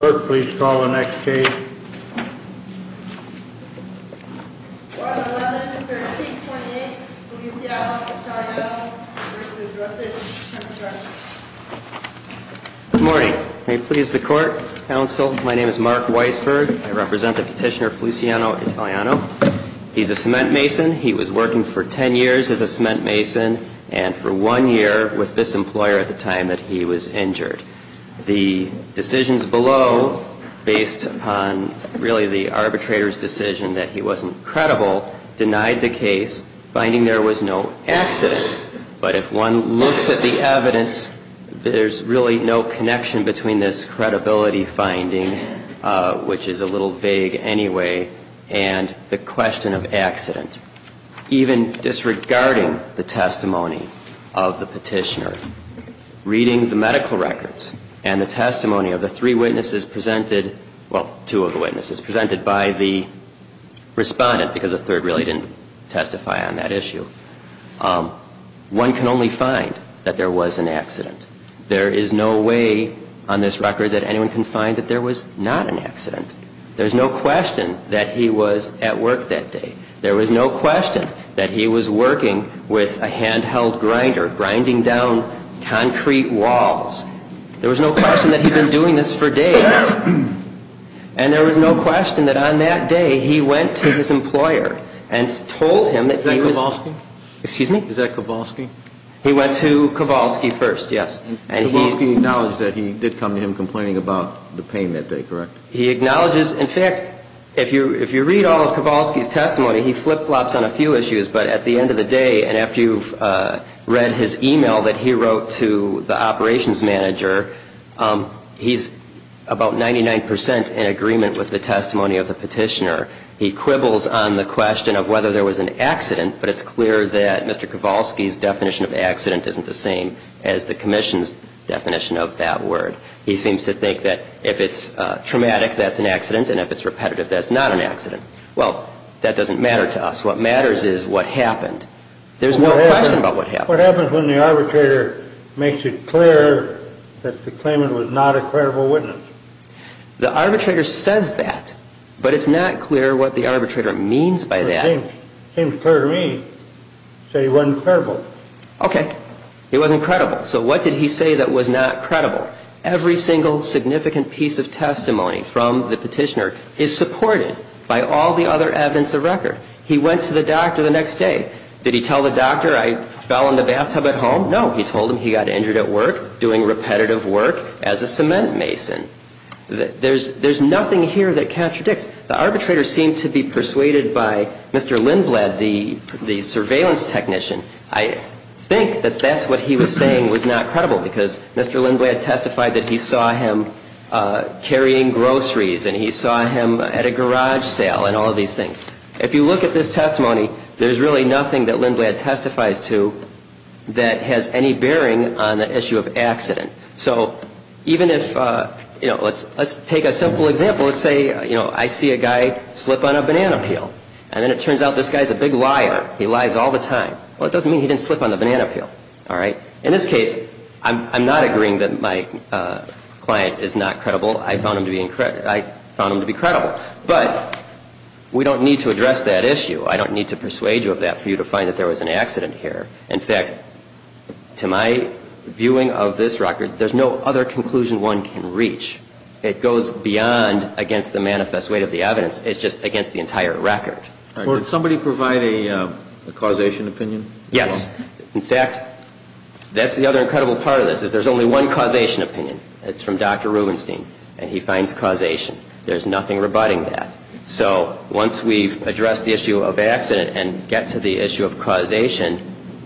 Good morning. May it please the court, counsel, my name is Mark Weisberg. I represent the petitioner Feliciano Italiano. He's a cement mason. He was working for ten years as a cement mason and for one year with this employer at the time that he was injured. The decisions below, based upon really the arbitrator's decision that he wasn't credible, denied the case, finding there was no accident. But if one looks at the evidence, there's really no connection between this credibility finding, which is a little vague anyway, and the question of accident. Even disregarding the testimony of the petitioner, reading the medical records and the testimony of the three witnesses presented, well, two of the witnesses presented by the respondent, because a third really didn't testify on that issue, one can only find that there was an accident. There is no way on this record that anyone can find that there was not an accident. There's no question that he was at work that day. There was no question that he was working with a handheld grinder, grinding down concrete walls. There was no question that he'd been doing this for days. And there was no question that on that day he went to his employer and told him that he was Is that Kowalski? Excuse me? Is that Kowalski? He went to Kowalski first, yes. And Kowalski acknowledged that he did come to him complaining about the pain that day, correct? He acknowledges, in fact, if you read all of Kowalski's testimony, he flip-flops on a few issues, but at the end of the day, and after you've read his email that he wrote to the operations manager, he's about 99% in agreement with the testimony of the petitioner. He quibbles on the question of whether there was an accident, but it's clear that Mr. Kowalski's definition of accident isn't the same as the commission's definition of that word. He seems to think that if it's traumatic, that's an accident, and if it's repetitive, that's not an accident. Well, that doesn't matter to us. What matters is what happened. There's no question about what happened. What happens when the arbitrator makes it clear that the claimant was not a credible witness? The arbitrator says that, but it's not clear what the arbitrator means by that. It seems clear to me to say he wasn't credible. Okay. He wasn't credible. So what did he say that was not credible? Every single significant piece of testimony from the petitioner is supported by all the other evidence of record. He went to the doctor the next day. Did he tell the doctor I fell in the bathtub at home? No, he told him he got injured at work doing repetitive work as a cement mason. There's nothing here that contradicts. The arbitrator seemed to be persuaded by Mr. Lindblad, the surveillance technician. I think that that's what he was saying was not credible, because Mr. Lindblad testified that he saw him carrying groceries, and he saw him at a garage sale, and all of these things. If you look at this testimony, there's really nothing that Lindblad testifies to that has any bearing on the issue of accident. So even if, you know, let's take a simple example. Let's say, you know, I see a guy slip on a banana peel, and then it turns out this guy's a big liar. He lies all the time. Well, it doesn't mean he didn't slip on the banana peel. All right? In this case, I'm not agreeing that my client is not credible. I found him to be credible. But we don't need to address that issue. I don't need to persuade you of that for you to find that there was an accident here. In fact, to my viewing of this record, there's no other conclusion one can reach. It goes beyond against the manifest weight of the evidence. It's just against the entire record. All right. Did somebody provide a causation opinion? Yes. In fact, that's the other incredible part of this, is there's only one causation opinion. It's from Dr. Rubenstein, and he finds causation. There's nothing rebutting that. So once we've addressed the issue of accident and get to the issue of causation,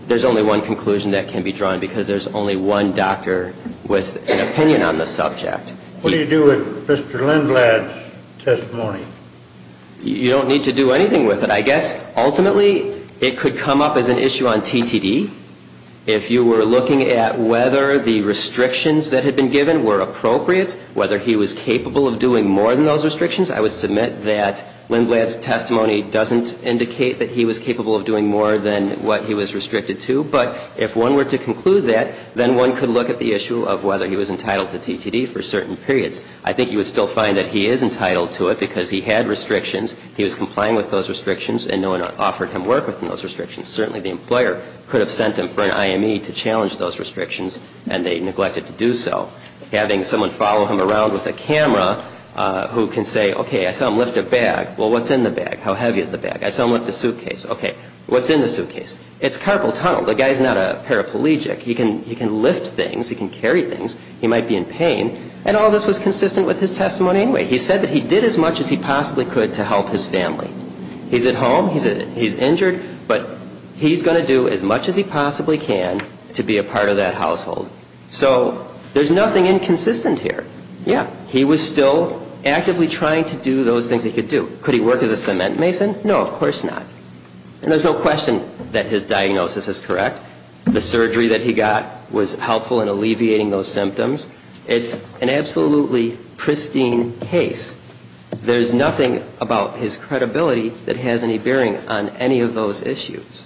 there's only one conclusion that can be drawn, because there's only one doctor with an opinion on the subject. What do you do with Mr. Lindblad's testimony? You don't need to do anything with it. I guess, ultimately, it could come up as an issue on TTD. If you were looking at whether the restrictions that had been given were appropriate, whether he was capable of doing more than those restrictions, I would submit that Lindblad's testimony doesn't indicate that he was capable of doing more than what he was restricted to. But if one were to conclude that, then one could look at the issue of whether he was entitled to TTD for certain periods. I think you would still find that he is entitled to it, because he had restrictions, he was complying with those restrictions, and no one offered him work within those restrictions. Certainly, the employer could have sent him for an IME to challenge those restrictions, and they neglected to do so. Having someone follow him around with a camera who can say, okay, I saw him lift a bag. Well, what's in the bag? How heavy is the bag? I saw him lift a suitcase. Okay, what's in the suitcase? It's carpal tunnel. The guy's not a paraplegic. He can lift things. He can carry things. He might be in pain. And all this was consistent with his testimony anyway. He said that he did as much as he possibly could to help his family. He's at home. He's injured. But he's going to do as much as he possibly can to be a part of that household. So there's nothing inconsistent here. Yeah, he was still actively trying to do those things that he could do. Could he work as a cement mason? No, of course not. And there's no question that his diagnosis is correct. The surgery that he got was helpful in alleviating those symptoms. It's an absolutely pristine case. There's nothing about his credibility that has any bearing on any of those issues.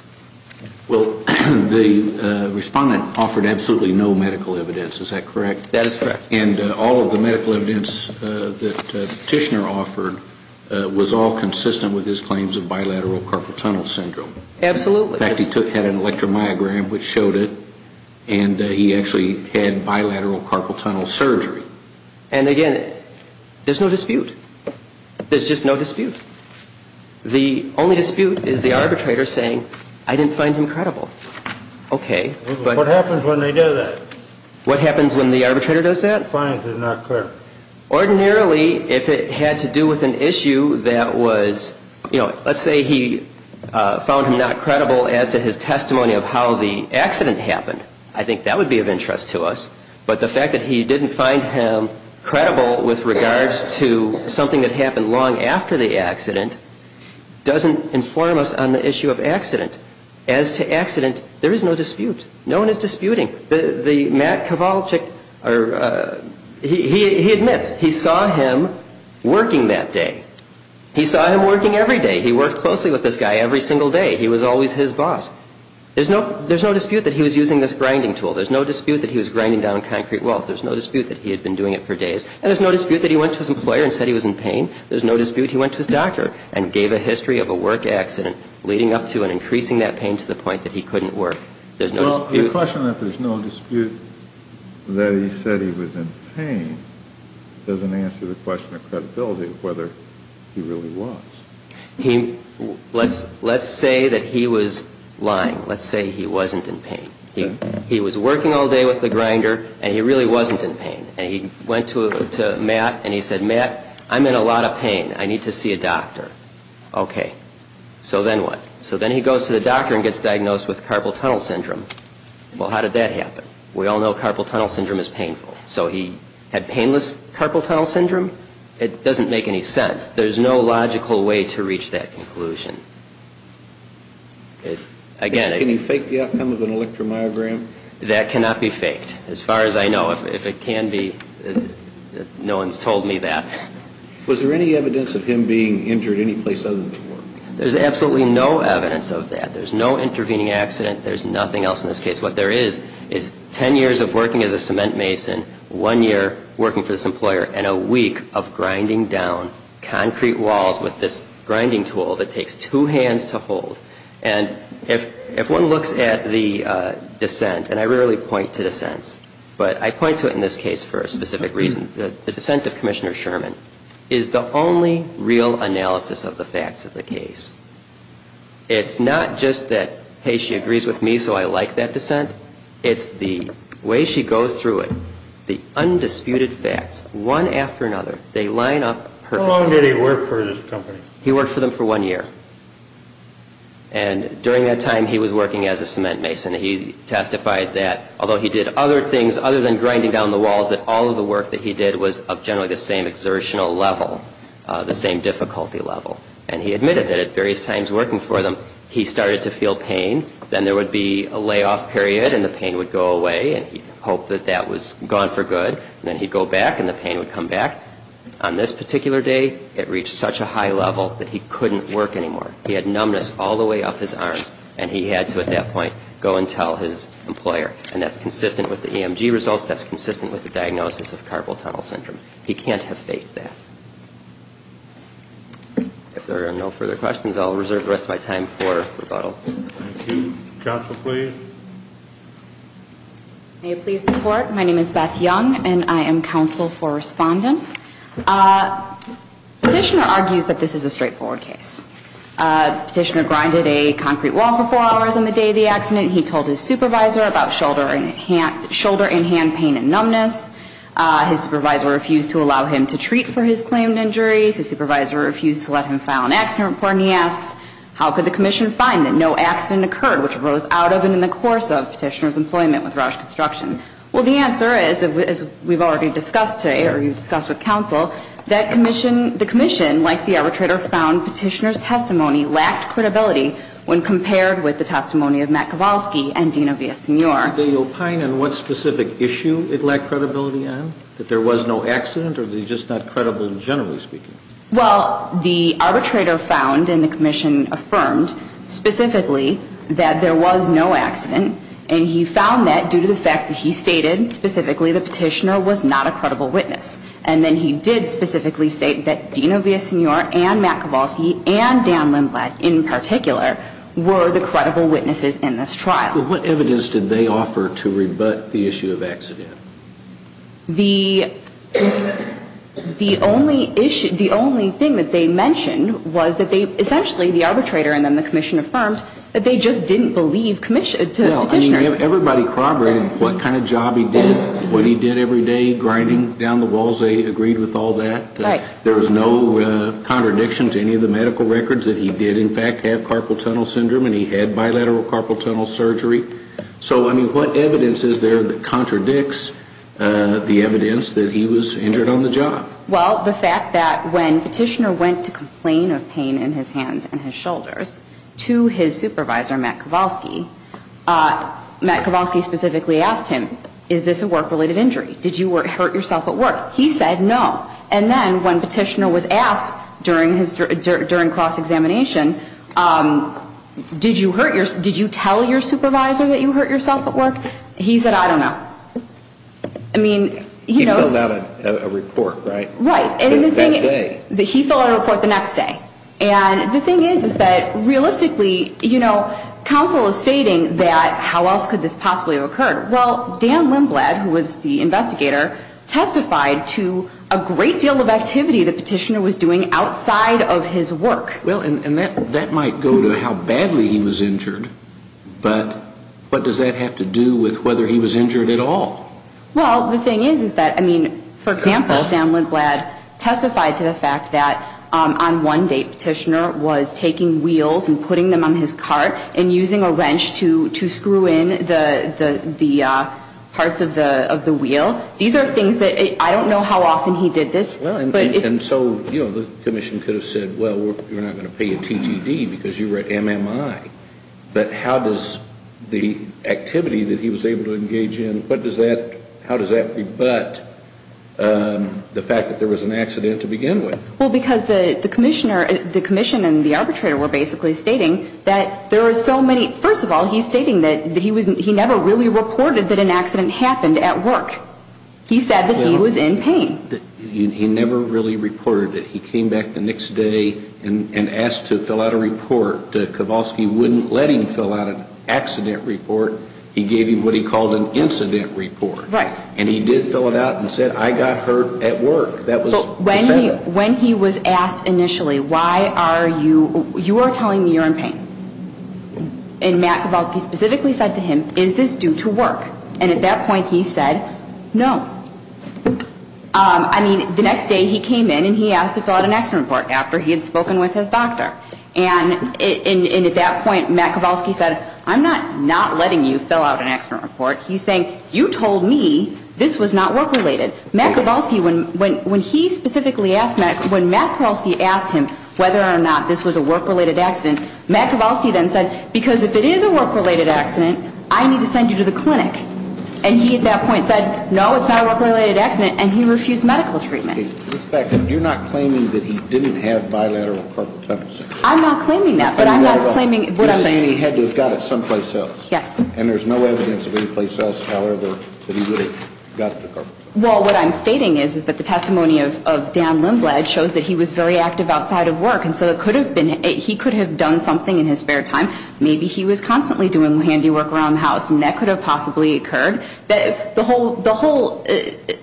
Well, the respondent offered absolutely no medical evidence. Is that correct? That is correct. And all of the medical evidence that Tishner offered was all consistent with his claims of bilateral carpal tunnel syndrome. Absolutely. In fact, he had an electromyogram which showed it. And he actually had bilateral carpal tunnel surgery. And again, there's no dispute. There's just no dispute. The only dispute is the arbitrator saying, I didn't find him credible. What happens when they do that? What happens when the arbitrator does that? He finds it not credible. Ordinarily, if it had to do with an issue that was, you know, let's say he found him not credible as to his testimony of how the accident happened, I think that would be of interest to us. But the fact that he didn't find him credible with regards to something that happened long after the accident doesn't inform us on the issue of accident. As to accident, there is no dispute. No one is disputing. The Matt Kowalczyk, he admits he saw him working that day. He saw him working every day. He worked closely with this guy every single day. He was always his boss. There's no dispute that he was using this grinding tool. There's no dispute that he was grinding down concrete walls. There's no dispute that he had been doing it for days. And there's no dispute that he went to his employer and said he was in pain. There's no dispute he went to his doctor and gave a history of a work accident leading up to and increasing that pain to the point that he couldn't work. There's no dispute. Well, the question that there's no dispute that he said he was in pain doesn't answer the question of credibility of whether he really was. Let's say that he was lying. Let's say he wasn't in pain. He was working all day with the grinder and he really wasn't in pain. And he went to Matt and he said, Matt, I'm in a lot of pain. I need to see a doctor. Okay. So then what? So then he goes to the doctor and gets diagnosed with carpal tunnel syndrome. Well, how did that happen? We all know carpal tunnel syndrome is painful. So he had painless carpal tunnel syndrome? It doesn't make any sense. There's no logical way to reach that conclusion. Can you fake the outcome of an electromyogram? That cannot be faked. As far as I know, if it can be, no one's told me that. Was there any evidence of him being injured any place other than at work? There's absolutely no evidence of that. There's no intervening accident. There's nothing else in this case. What there is is ten years of working as a cement mason, one year working for this employer and a week of grinding down concrete walls with this grinding tool that I rarely point to dissents. But I point to it in this case for a specific reason. The dissent of Commissioner Sherman is the only real analysis of the facts of the case. It's not just that, hey, she agrees with me, so I like that dissent. It's the way she goes through it, the undisputed facts, one after another, they line up perfectly. How long did he work for this company? He worked for them for one year. And during that time, he was working as a cement mason. He testified that although he did other things other than grinding down the walls, that all of the work that he did was of generally the same exertional level, the same difficulty level. And he admitted that at various times working for them, he started to feel pain. Then there would be a layoff period and the pain would go away and he'd hope that that was gone for good. And then he'd go back and the pain would come back. On this particular day, it reached such a high level that he had to, at that point, go and tell his employer. And that's consistent with the EMG results. That's consistent with the diagnosis of carpal tunnel syndrome. He can't have faked that. If there are no further questions, I'll reserve the rest of my time for rebuttal. Thank you. Counsel, please. May it please the Court, my name is Beth Young and I am counsel for Respondent. Petitioner argues that this is a straightforward case. Petitioner grinded a concrete wall for four hours on the day of the accident. He told his supervisor about shoulder and hand pain and numbness. His supervisor refused to allow him to treat for his claimed injuries. His supervisor refused to let him file an accident report. And he asks, how could the commission find that no accident occurred, which rose out of and in the course of Petitioner's employment with Roush Construction? Well, the answer is, as we've already discussed with counsel, that the commission, like the arbitrator, found Petitioner's testimony lacked credibility when compared with the testimony of Matt Kowalski and Dina Villasenor. Do they opine on what specific issue it lacked credibility on? That there was no accident or that he's just not credible generally speaking? Well, the arbitrator found, and the commission affirmed, specifically, that there was no accident. And he found that due to the fact that he stated, specifically, that Petitioner was not a credible witness. And then he did specifically state that Dina Villasenor and Matt Kowalski and Dan Lindblad, in particular, were the credible witnesses in this trial. But what evidence did they offer to rebut the issue of accident? The only issue, the only thing that they mentioned was that they, essentially, the arbitrator and then the commission affirmed that they just didn't believe Petitioner's testimony. Everybody corroborated what kind of job he did, what he did every day, grinding down the walls, they agreed with all that. Right. There was no contradiction to any of the medical records that he did, in fact, have carpal tunnel syndrome and he had bilateral carpal tunnel surgery. So, I mean, what evidence is there that contradicts the evidence that he was injured on the job? Well, the fact that when Petitioner went to complain of pain in his hands and his shoulders to his supervisor, Matt Kowalski, Matt Kowalski specifically asked him, is this a work-related injury? Did you hurt yourself at work? He said no. And then when Petitioner was asked during his, during cross-examination, did you hurt your, did you tell your supervisor that you hurt yourself at work? He said, I don't know. I mean, you know. He filled out a report, right? Right. That day. And the thing is, is that realistically, you know, counsel is stating that how else could this possibly have occurred? Well, Dan Lindblad, who was the investigator, testified to a great deal of activity that Petitioner was doing outside of his work. Well, and that, that might go to how badly he was injured, but what does that have to do with whether he was injured at all? Well, the thing is, is that, I mean, for example, Dan Lindblad testified to the fact that on one day Petitioner was taking wheels and putting them on his cart and using a wrench to, to screw in the, the, the parts of the, of the wheel. These are things that, I don't know how often he did this. Well, and, and so, you know, the Commission could have said, well, we're not going to pay you TTD because you were at MMI. But how does the activity that he was able to engage in, what does that, how does that rebut the fact that there was an accident to begin with? Well, because the, the Commissioner, the Commission and the arbitrator were basically stating that there are so many, first of all, he's stating that, that he was, he never really reported that an accident happened at work. He said that he was in pain. He never really reported it. He came back the next day and, and asked to fill out a report. Kowalski wouldn't let him fill out an accident report. He gave him what he called an incident report. Right. And he did fill it out and said, I got hurt at work. That was, he said that. But when he was asked initially, why are you, you are telling me you're in pain. And Matt Kowalski specifically said to him, is this due to work? And at that point he said, no. I mean, the next day he came in and he asked to fill out an accident report after he had spoken with his doctor. And, and at that point Matt Kowalski said, I'm not, not letting you fill out an accident report. He's saying, you told me this was not work related. Matt Kowalski, when, when, when he specifically asked Matt, when Matt Kowalski asked him whether or not this was a work related accident, Matt Kowalski then said, because if it is a work related accident, I need to send you to the clinic. And he at that point said, no, it's not a work related accident. And he refused medical treatment. Ms. Beckham, you're not claiming that he didn't have bilateral carpal tunnel syndrome. I'm not claiming that, but I'm not claiming what I'm saying. You're saying he had to have got it someplace else. Yes. And there's no evidence of anyplace else, however, that he would have got the carpal tunnel syndrome. Well, what I'm stating is, is that the testimony of, of Dan Lindblad shows that he was very active outside of work. And so it could have been, he could have done something in his spare time. Maybe he was constantly doing handy work around the house, and that could have possibly occurred. The whole, the whole,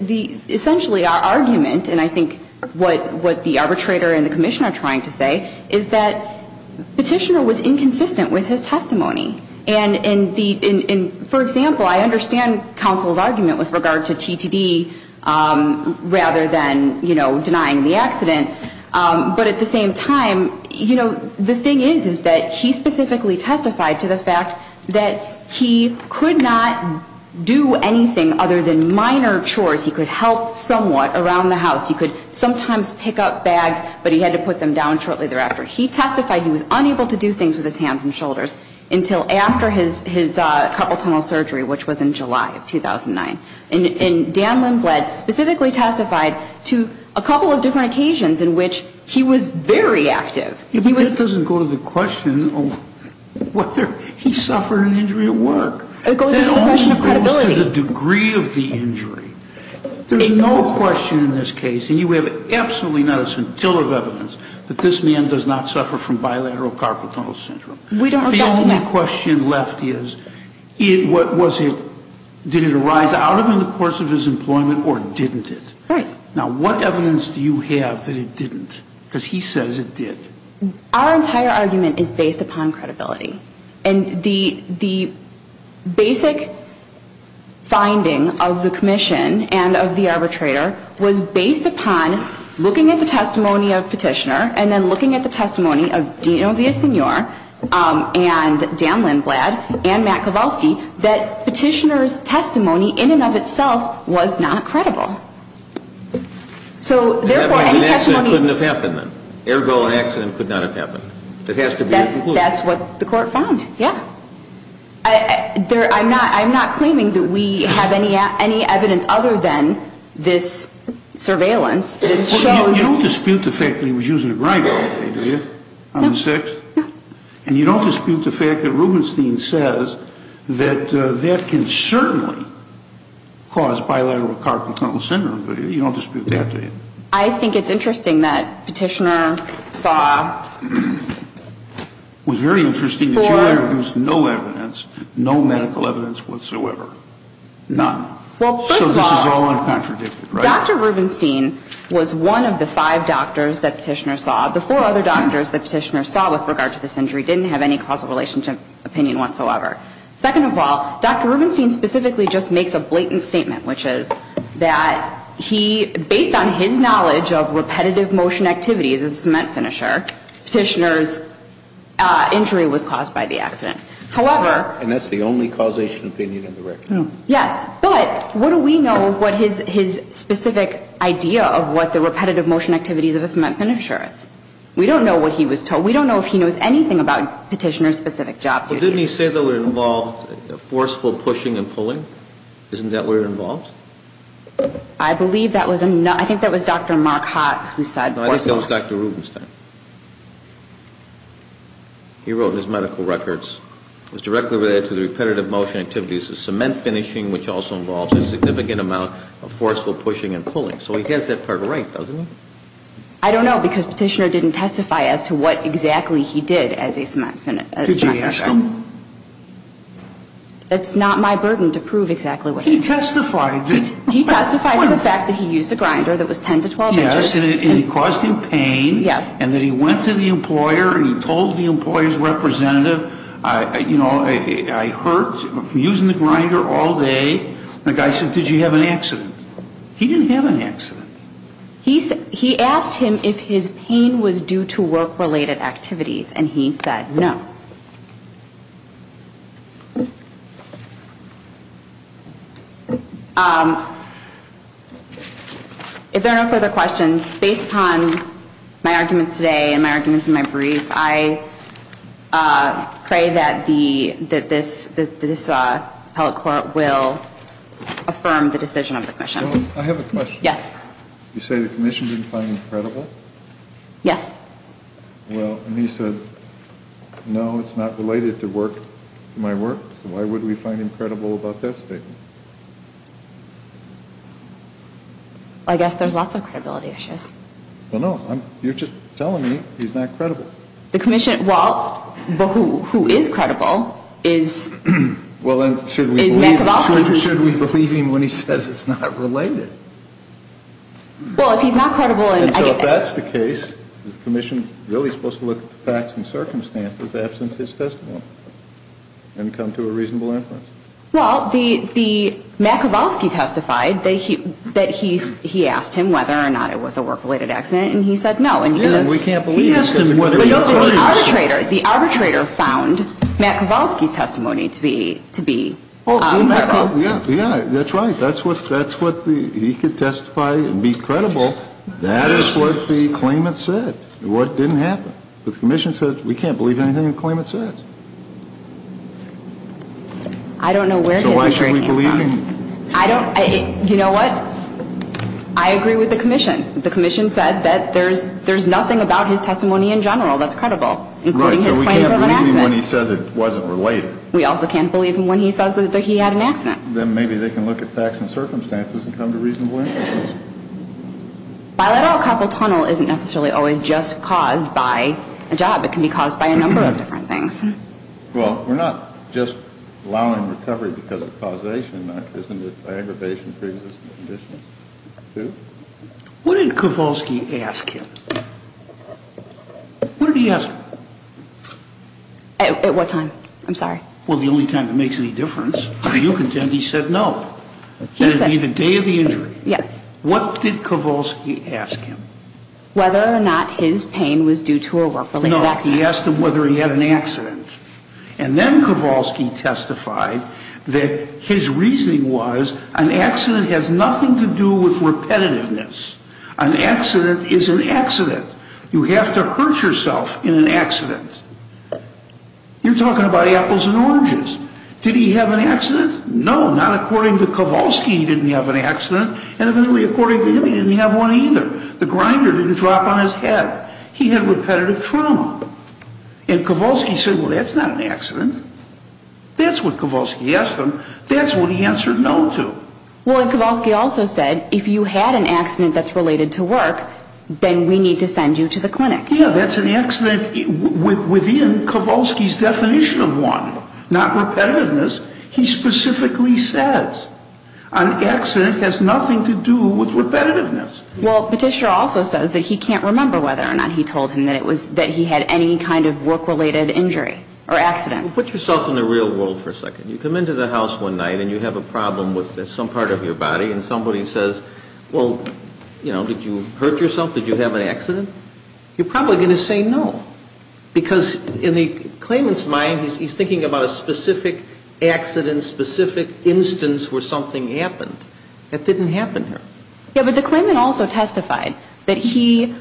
the, essentially our argument, and I think what, what the arbitrator and the commissioner are trying to say, is that the petitioner was inconsistent with his testimony. And, and the, and, and for example, I understand counsel's argument with regard to TTD rather than, you know, denying the accident. But at the same time, you know, the thing is, is that he specifically testified to the fact that he could not do anything other than minor chores. He could help somewhat around the house. He could sometimes pick up bags, but he had to put them down shortly thereafter. He testified he was unable to do things with his hands and shoulders until after his, his carpal tunnel surgery, which was in July of 2009. And, and Dan Lindblad specifically testified to a couple of different occasions in which he was very active. He was... But that doesn't go to the question of whether he suffered an injury at work. It goes to the question of credibility. That only goes to the degree of the injury. There's no question in this case, and you have absolutely not a scintilla of evidence, that this man does not suffer from bilateral carpal tunnel syndrome. We don't argue that. The only question left is, it, what was it, did it arise out of in the course of his employment or didn't it? Right. Now, what evidence do you have that it didn't? Because he says it did. Our entire argument is based upon credibility. And the, the basic finding of the commission and of the arbitrator was based upon looking at the testimony of Petitioner and then looking at the testimony of Dino Villasenor and Dan Lindblad and Matt Kowalski, that Petitioner's testimony in and of itself was not credible. So therefore, any testimony... It couldn't have happened then. Ergo, an accident could not have happened. It has to be a conclusion. That's, that's what the court found. Yeah. I, there, I'm not, I'm not claiming that we have any, any evidence other than this surveillance that shows... You don't dispute the fact that he was using a grinder all day, do you? On the 6th? No. And you don't dispute the fact that Rubenstein says that that can certainly cause bilateral carpal tunnel syndrome, do you? You don't dispute that, do you? I think it's interesting that Petitioner saw... Was very interesting that you have no evidence, no medical evidence whatsoever. None. Well, first of all... So this is all uncontradicted, right? Dr. Rubenstein was one of the five doctors that Petitioner saw. The four other doctors that Petitioner saw with regard to this injury didn't have any causal relationship opinion whatsoever. Second of all, Dr. Rubenstein specifically just makes a blatant statement, which is that he, based on his knowledge of repetitive motion activities as a cement finisher, Petitioner's injury was caused by the accident. However... And that's the only causation opinion in the record. Yes. But what do we know of what his specific idea of what the repetitive motion activities of a cement finisher is? We don't know what he was told. We don't know if he knows anything about Petitioner's specific job duties. Well, didn't he say that it involved forceful pushing and pulling? Isn't that what it involved? I believe that was... I think that was Dr. Marquardt who said... No, I think that was Dr. Rubenstein. He wrote in his medical records, it was directly related to the repetitive motion activities of cement finishing, which also involved a significant amount of forceful pushing and pulling. So he gets that part right, doesn't he? I don't know, because Petitioner didn't testify as to what exactly he did as a cement finisher. Did you ask him? It's not my burden to prove exactly what he did. He testified that... He testified to the fact that he used a grinder that was 10 to 12 inches. Yes, and it caused him pain. Yes. And that he went to the employer and he told the employer's representative, you know, I hurt from using the grinder all day. And the guy said, did you have an accident? He didn't have an accident. He asked him if his pain was due to work-related activities, and he said no. If there are no further questions, based upon my arguments today and my arguments in my brief, I pray that this appellate court will affirm the decision of the commission. I have a question. Yes. You say the commission didn't find it credible? Yes. Well, and he said, no, it's not related to my work, so why would we find him credible about testifying? I guess there's lots of credibility issues. Well, no, you're just telling me he's not credible. The commission, well, but who is credible is... Well, and should we believe him when he says it's not related? Well, if he's not credible... So if that's the case, is the commission really supposed to look at the facts and circumstances absent his testimony and come to a reasonable inference? Well, Matt Kowalski testified that he asked him whether or not it was a work-related accident, and he said no. Yeah, and we can't believe... He asked him whether... The arbitrator found Matt Kowalski's testimony to be credible. Yeah, that's right. That's what he could testify and be credible. That is what the claimant said, what didn't happen. But the commission said we can't believe anything the claimant says. I don't know where his interest came from. So why should we believe him? I don't... You know what? I agree with the commission. The commission said that there's nothing about his testimony in general that's credible, including his claim of an accident. Right, so we can't believe him when he says it wasn't related. We also can't believe him when he says that he had an accident. Then maybe they can look at facts and circumstances and come to reasonable inference. While et al. carpal tunnel isn't necessarily always just caused by a job, it can be caused by a number of different things. Well, we're not just allowing recovery because of causation. Isn't it by aggravation, pre-existing conditions, too? What did Kowalski ask him? What did he ask him? At what time? I'm sorry. Well, the only time it makes any difference. If you contend he said no. He said... It would be the day of the injury. Yes. What did Kowalski ask him? Whether or not his pain was due to a work-related accident. No, he asked him whether he had an accident. And then Kowalski testified that his reasoning was an accident has nothing to do with repetitiveness. An accident is an accident. You have to hurt yourself in an accident. You're talking about apples and oranges. Did he have an accident? No, not according to Kowalski, he didn't have an accident. And evidently, according to him, he didn't have one either. The grinder didn't drop on his head. He had repetitive trauma. And Kowalski said, well, that's not an accident. That's what Kowalski asked him. That's what he answered no to. Well, Kowalski also said, if you had an accident that's related to work, then we need to send you to the clinic. Yeah, that's an accident within Kowalski's definition of one, not repetitiveness. He specifically says an accident has nothing to do with repetitiveness. Well, Petitioner also says that he can't remember whether or not he told him that he had any kind of work-related injury or accident. Put yourself in the real world for a second. You come into the house one night and you have a problem with some part of your body, and somebody says, well, you know, did you hurt yourself? Did you have an accident? You're probably going to say no. Because in the claimant's mind, he's thinking about a specific accident, specific instance where something happened. That didn't happen here. Yeah, but the claimant also testified that he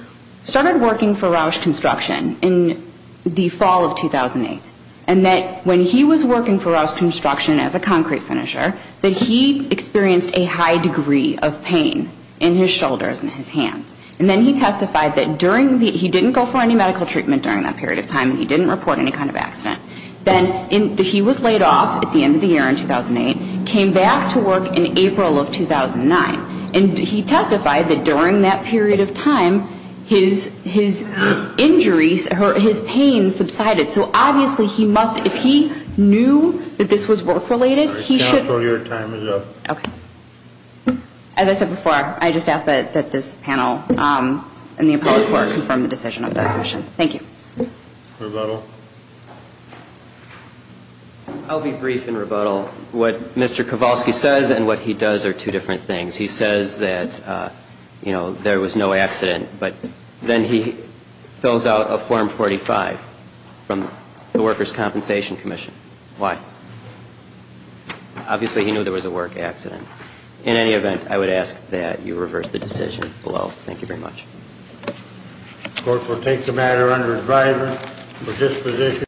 started working for Roush Construction in the fall of 2008, and that when he was working for Roush Construction as a concrete finisher, that he experienced a high degree of pain in his shoulders and his hands. And then he testified that during the, he didn't go for any medical treatment during that period of time, and he didn't report any kind of accident. Then he was laid off at the end of the year in 2008, came back to work in April of 2009, and he testified that during that period of time, his injuries, his pain subsided. So obviously he must, if he knew that this was work-related, he should. Counsel, your time is up. Okay. As I said before, I just ask that this panel and the appellate court confirm the decision of the commission. Thank you. Rebuttal. I'll be brief in rebuttal. What Mr. Kowalski says and what he does are two different things. He says that, you know, there was no accident, but then he fills out a Form 45 from the Workers' Compensation Commission. Why? Obviously he knew there was a work accident. In any event, I would ask that you reverse the decision below. Thank you very much. The court will take the matter under advisory for disposition.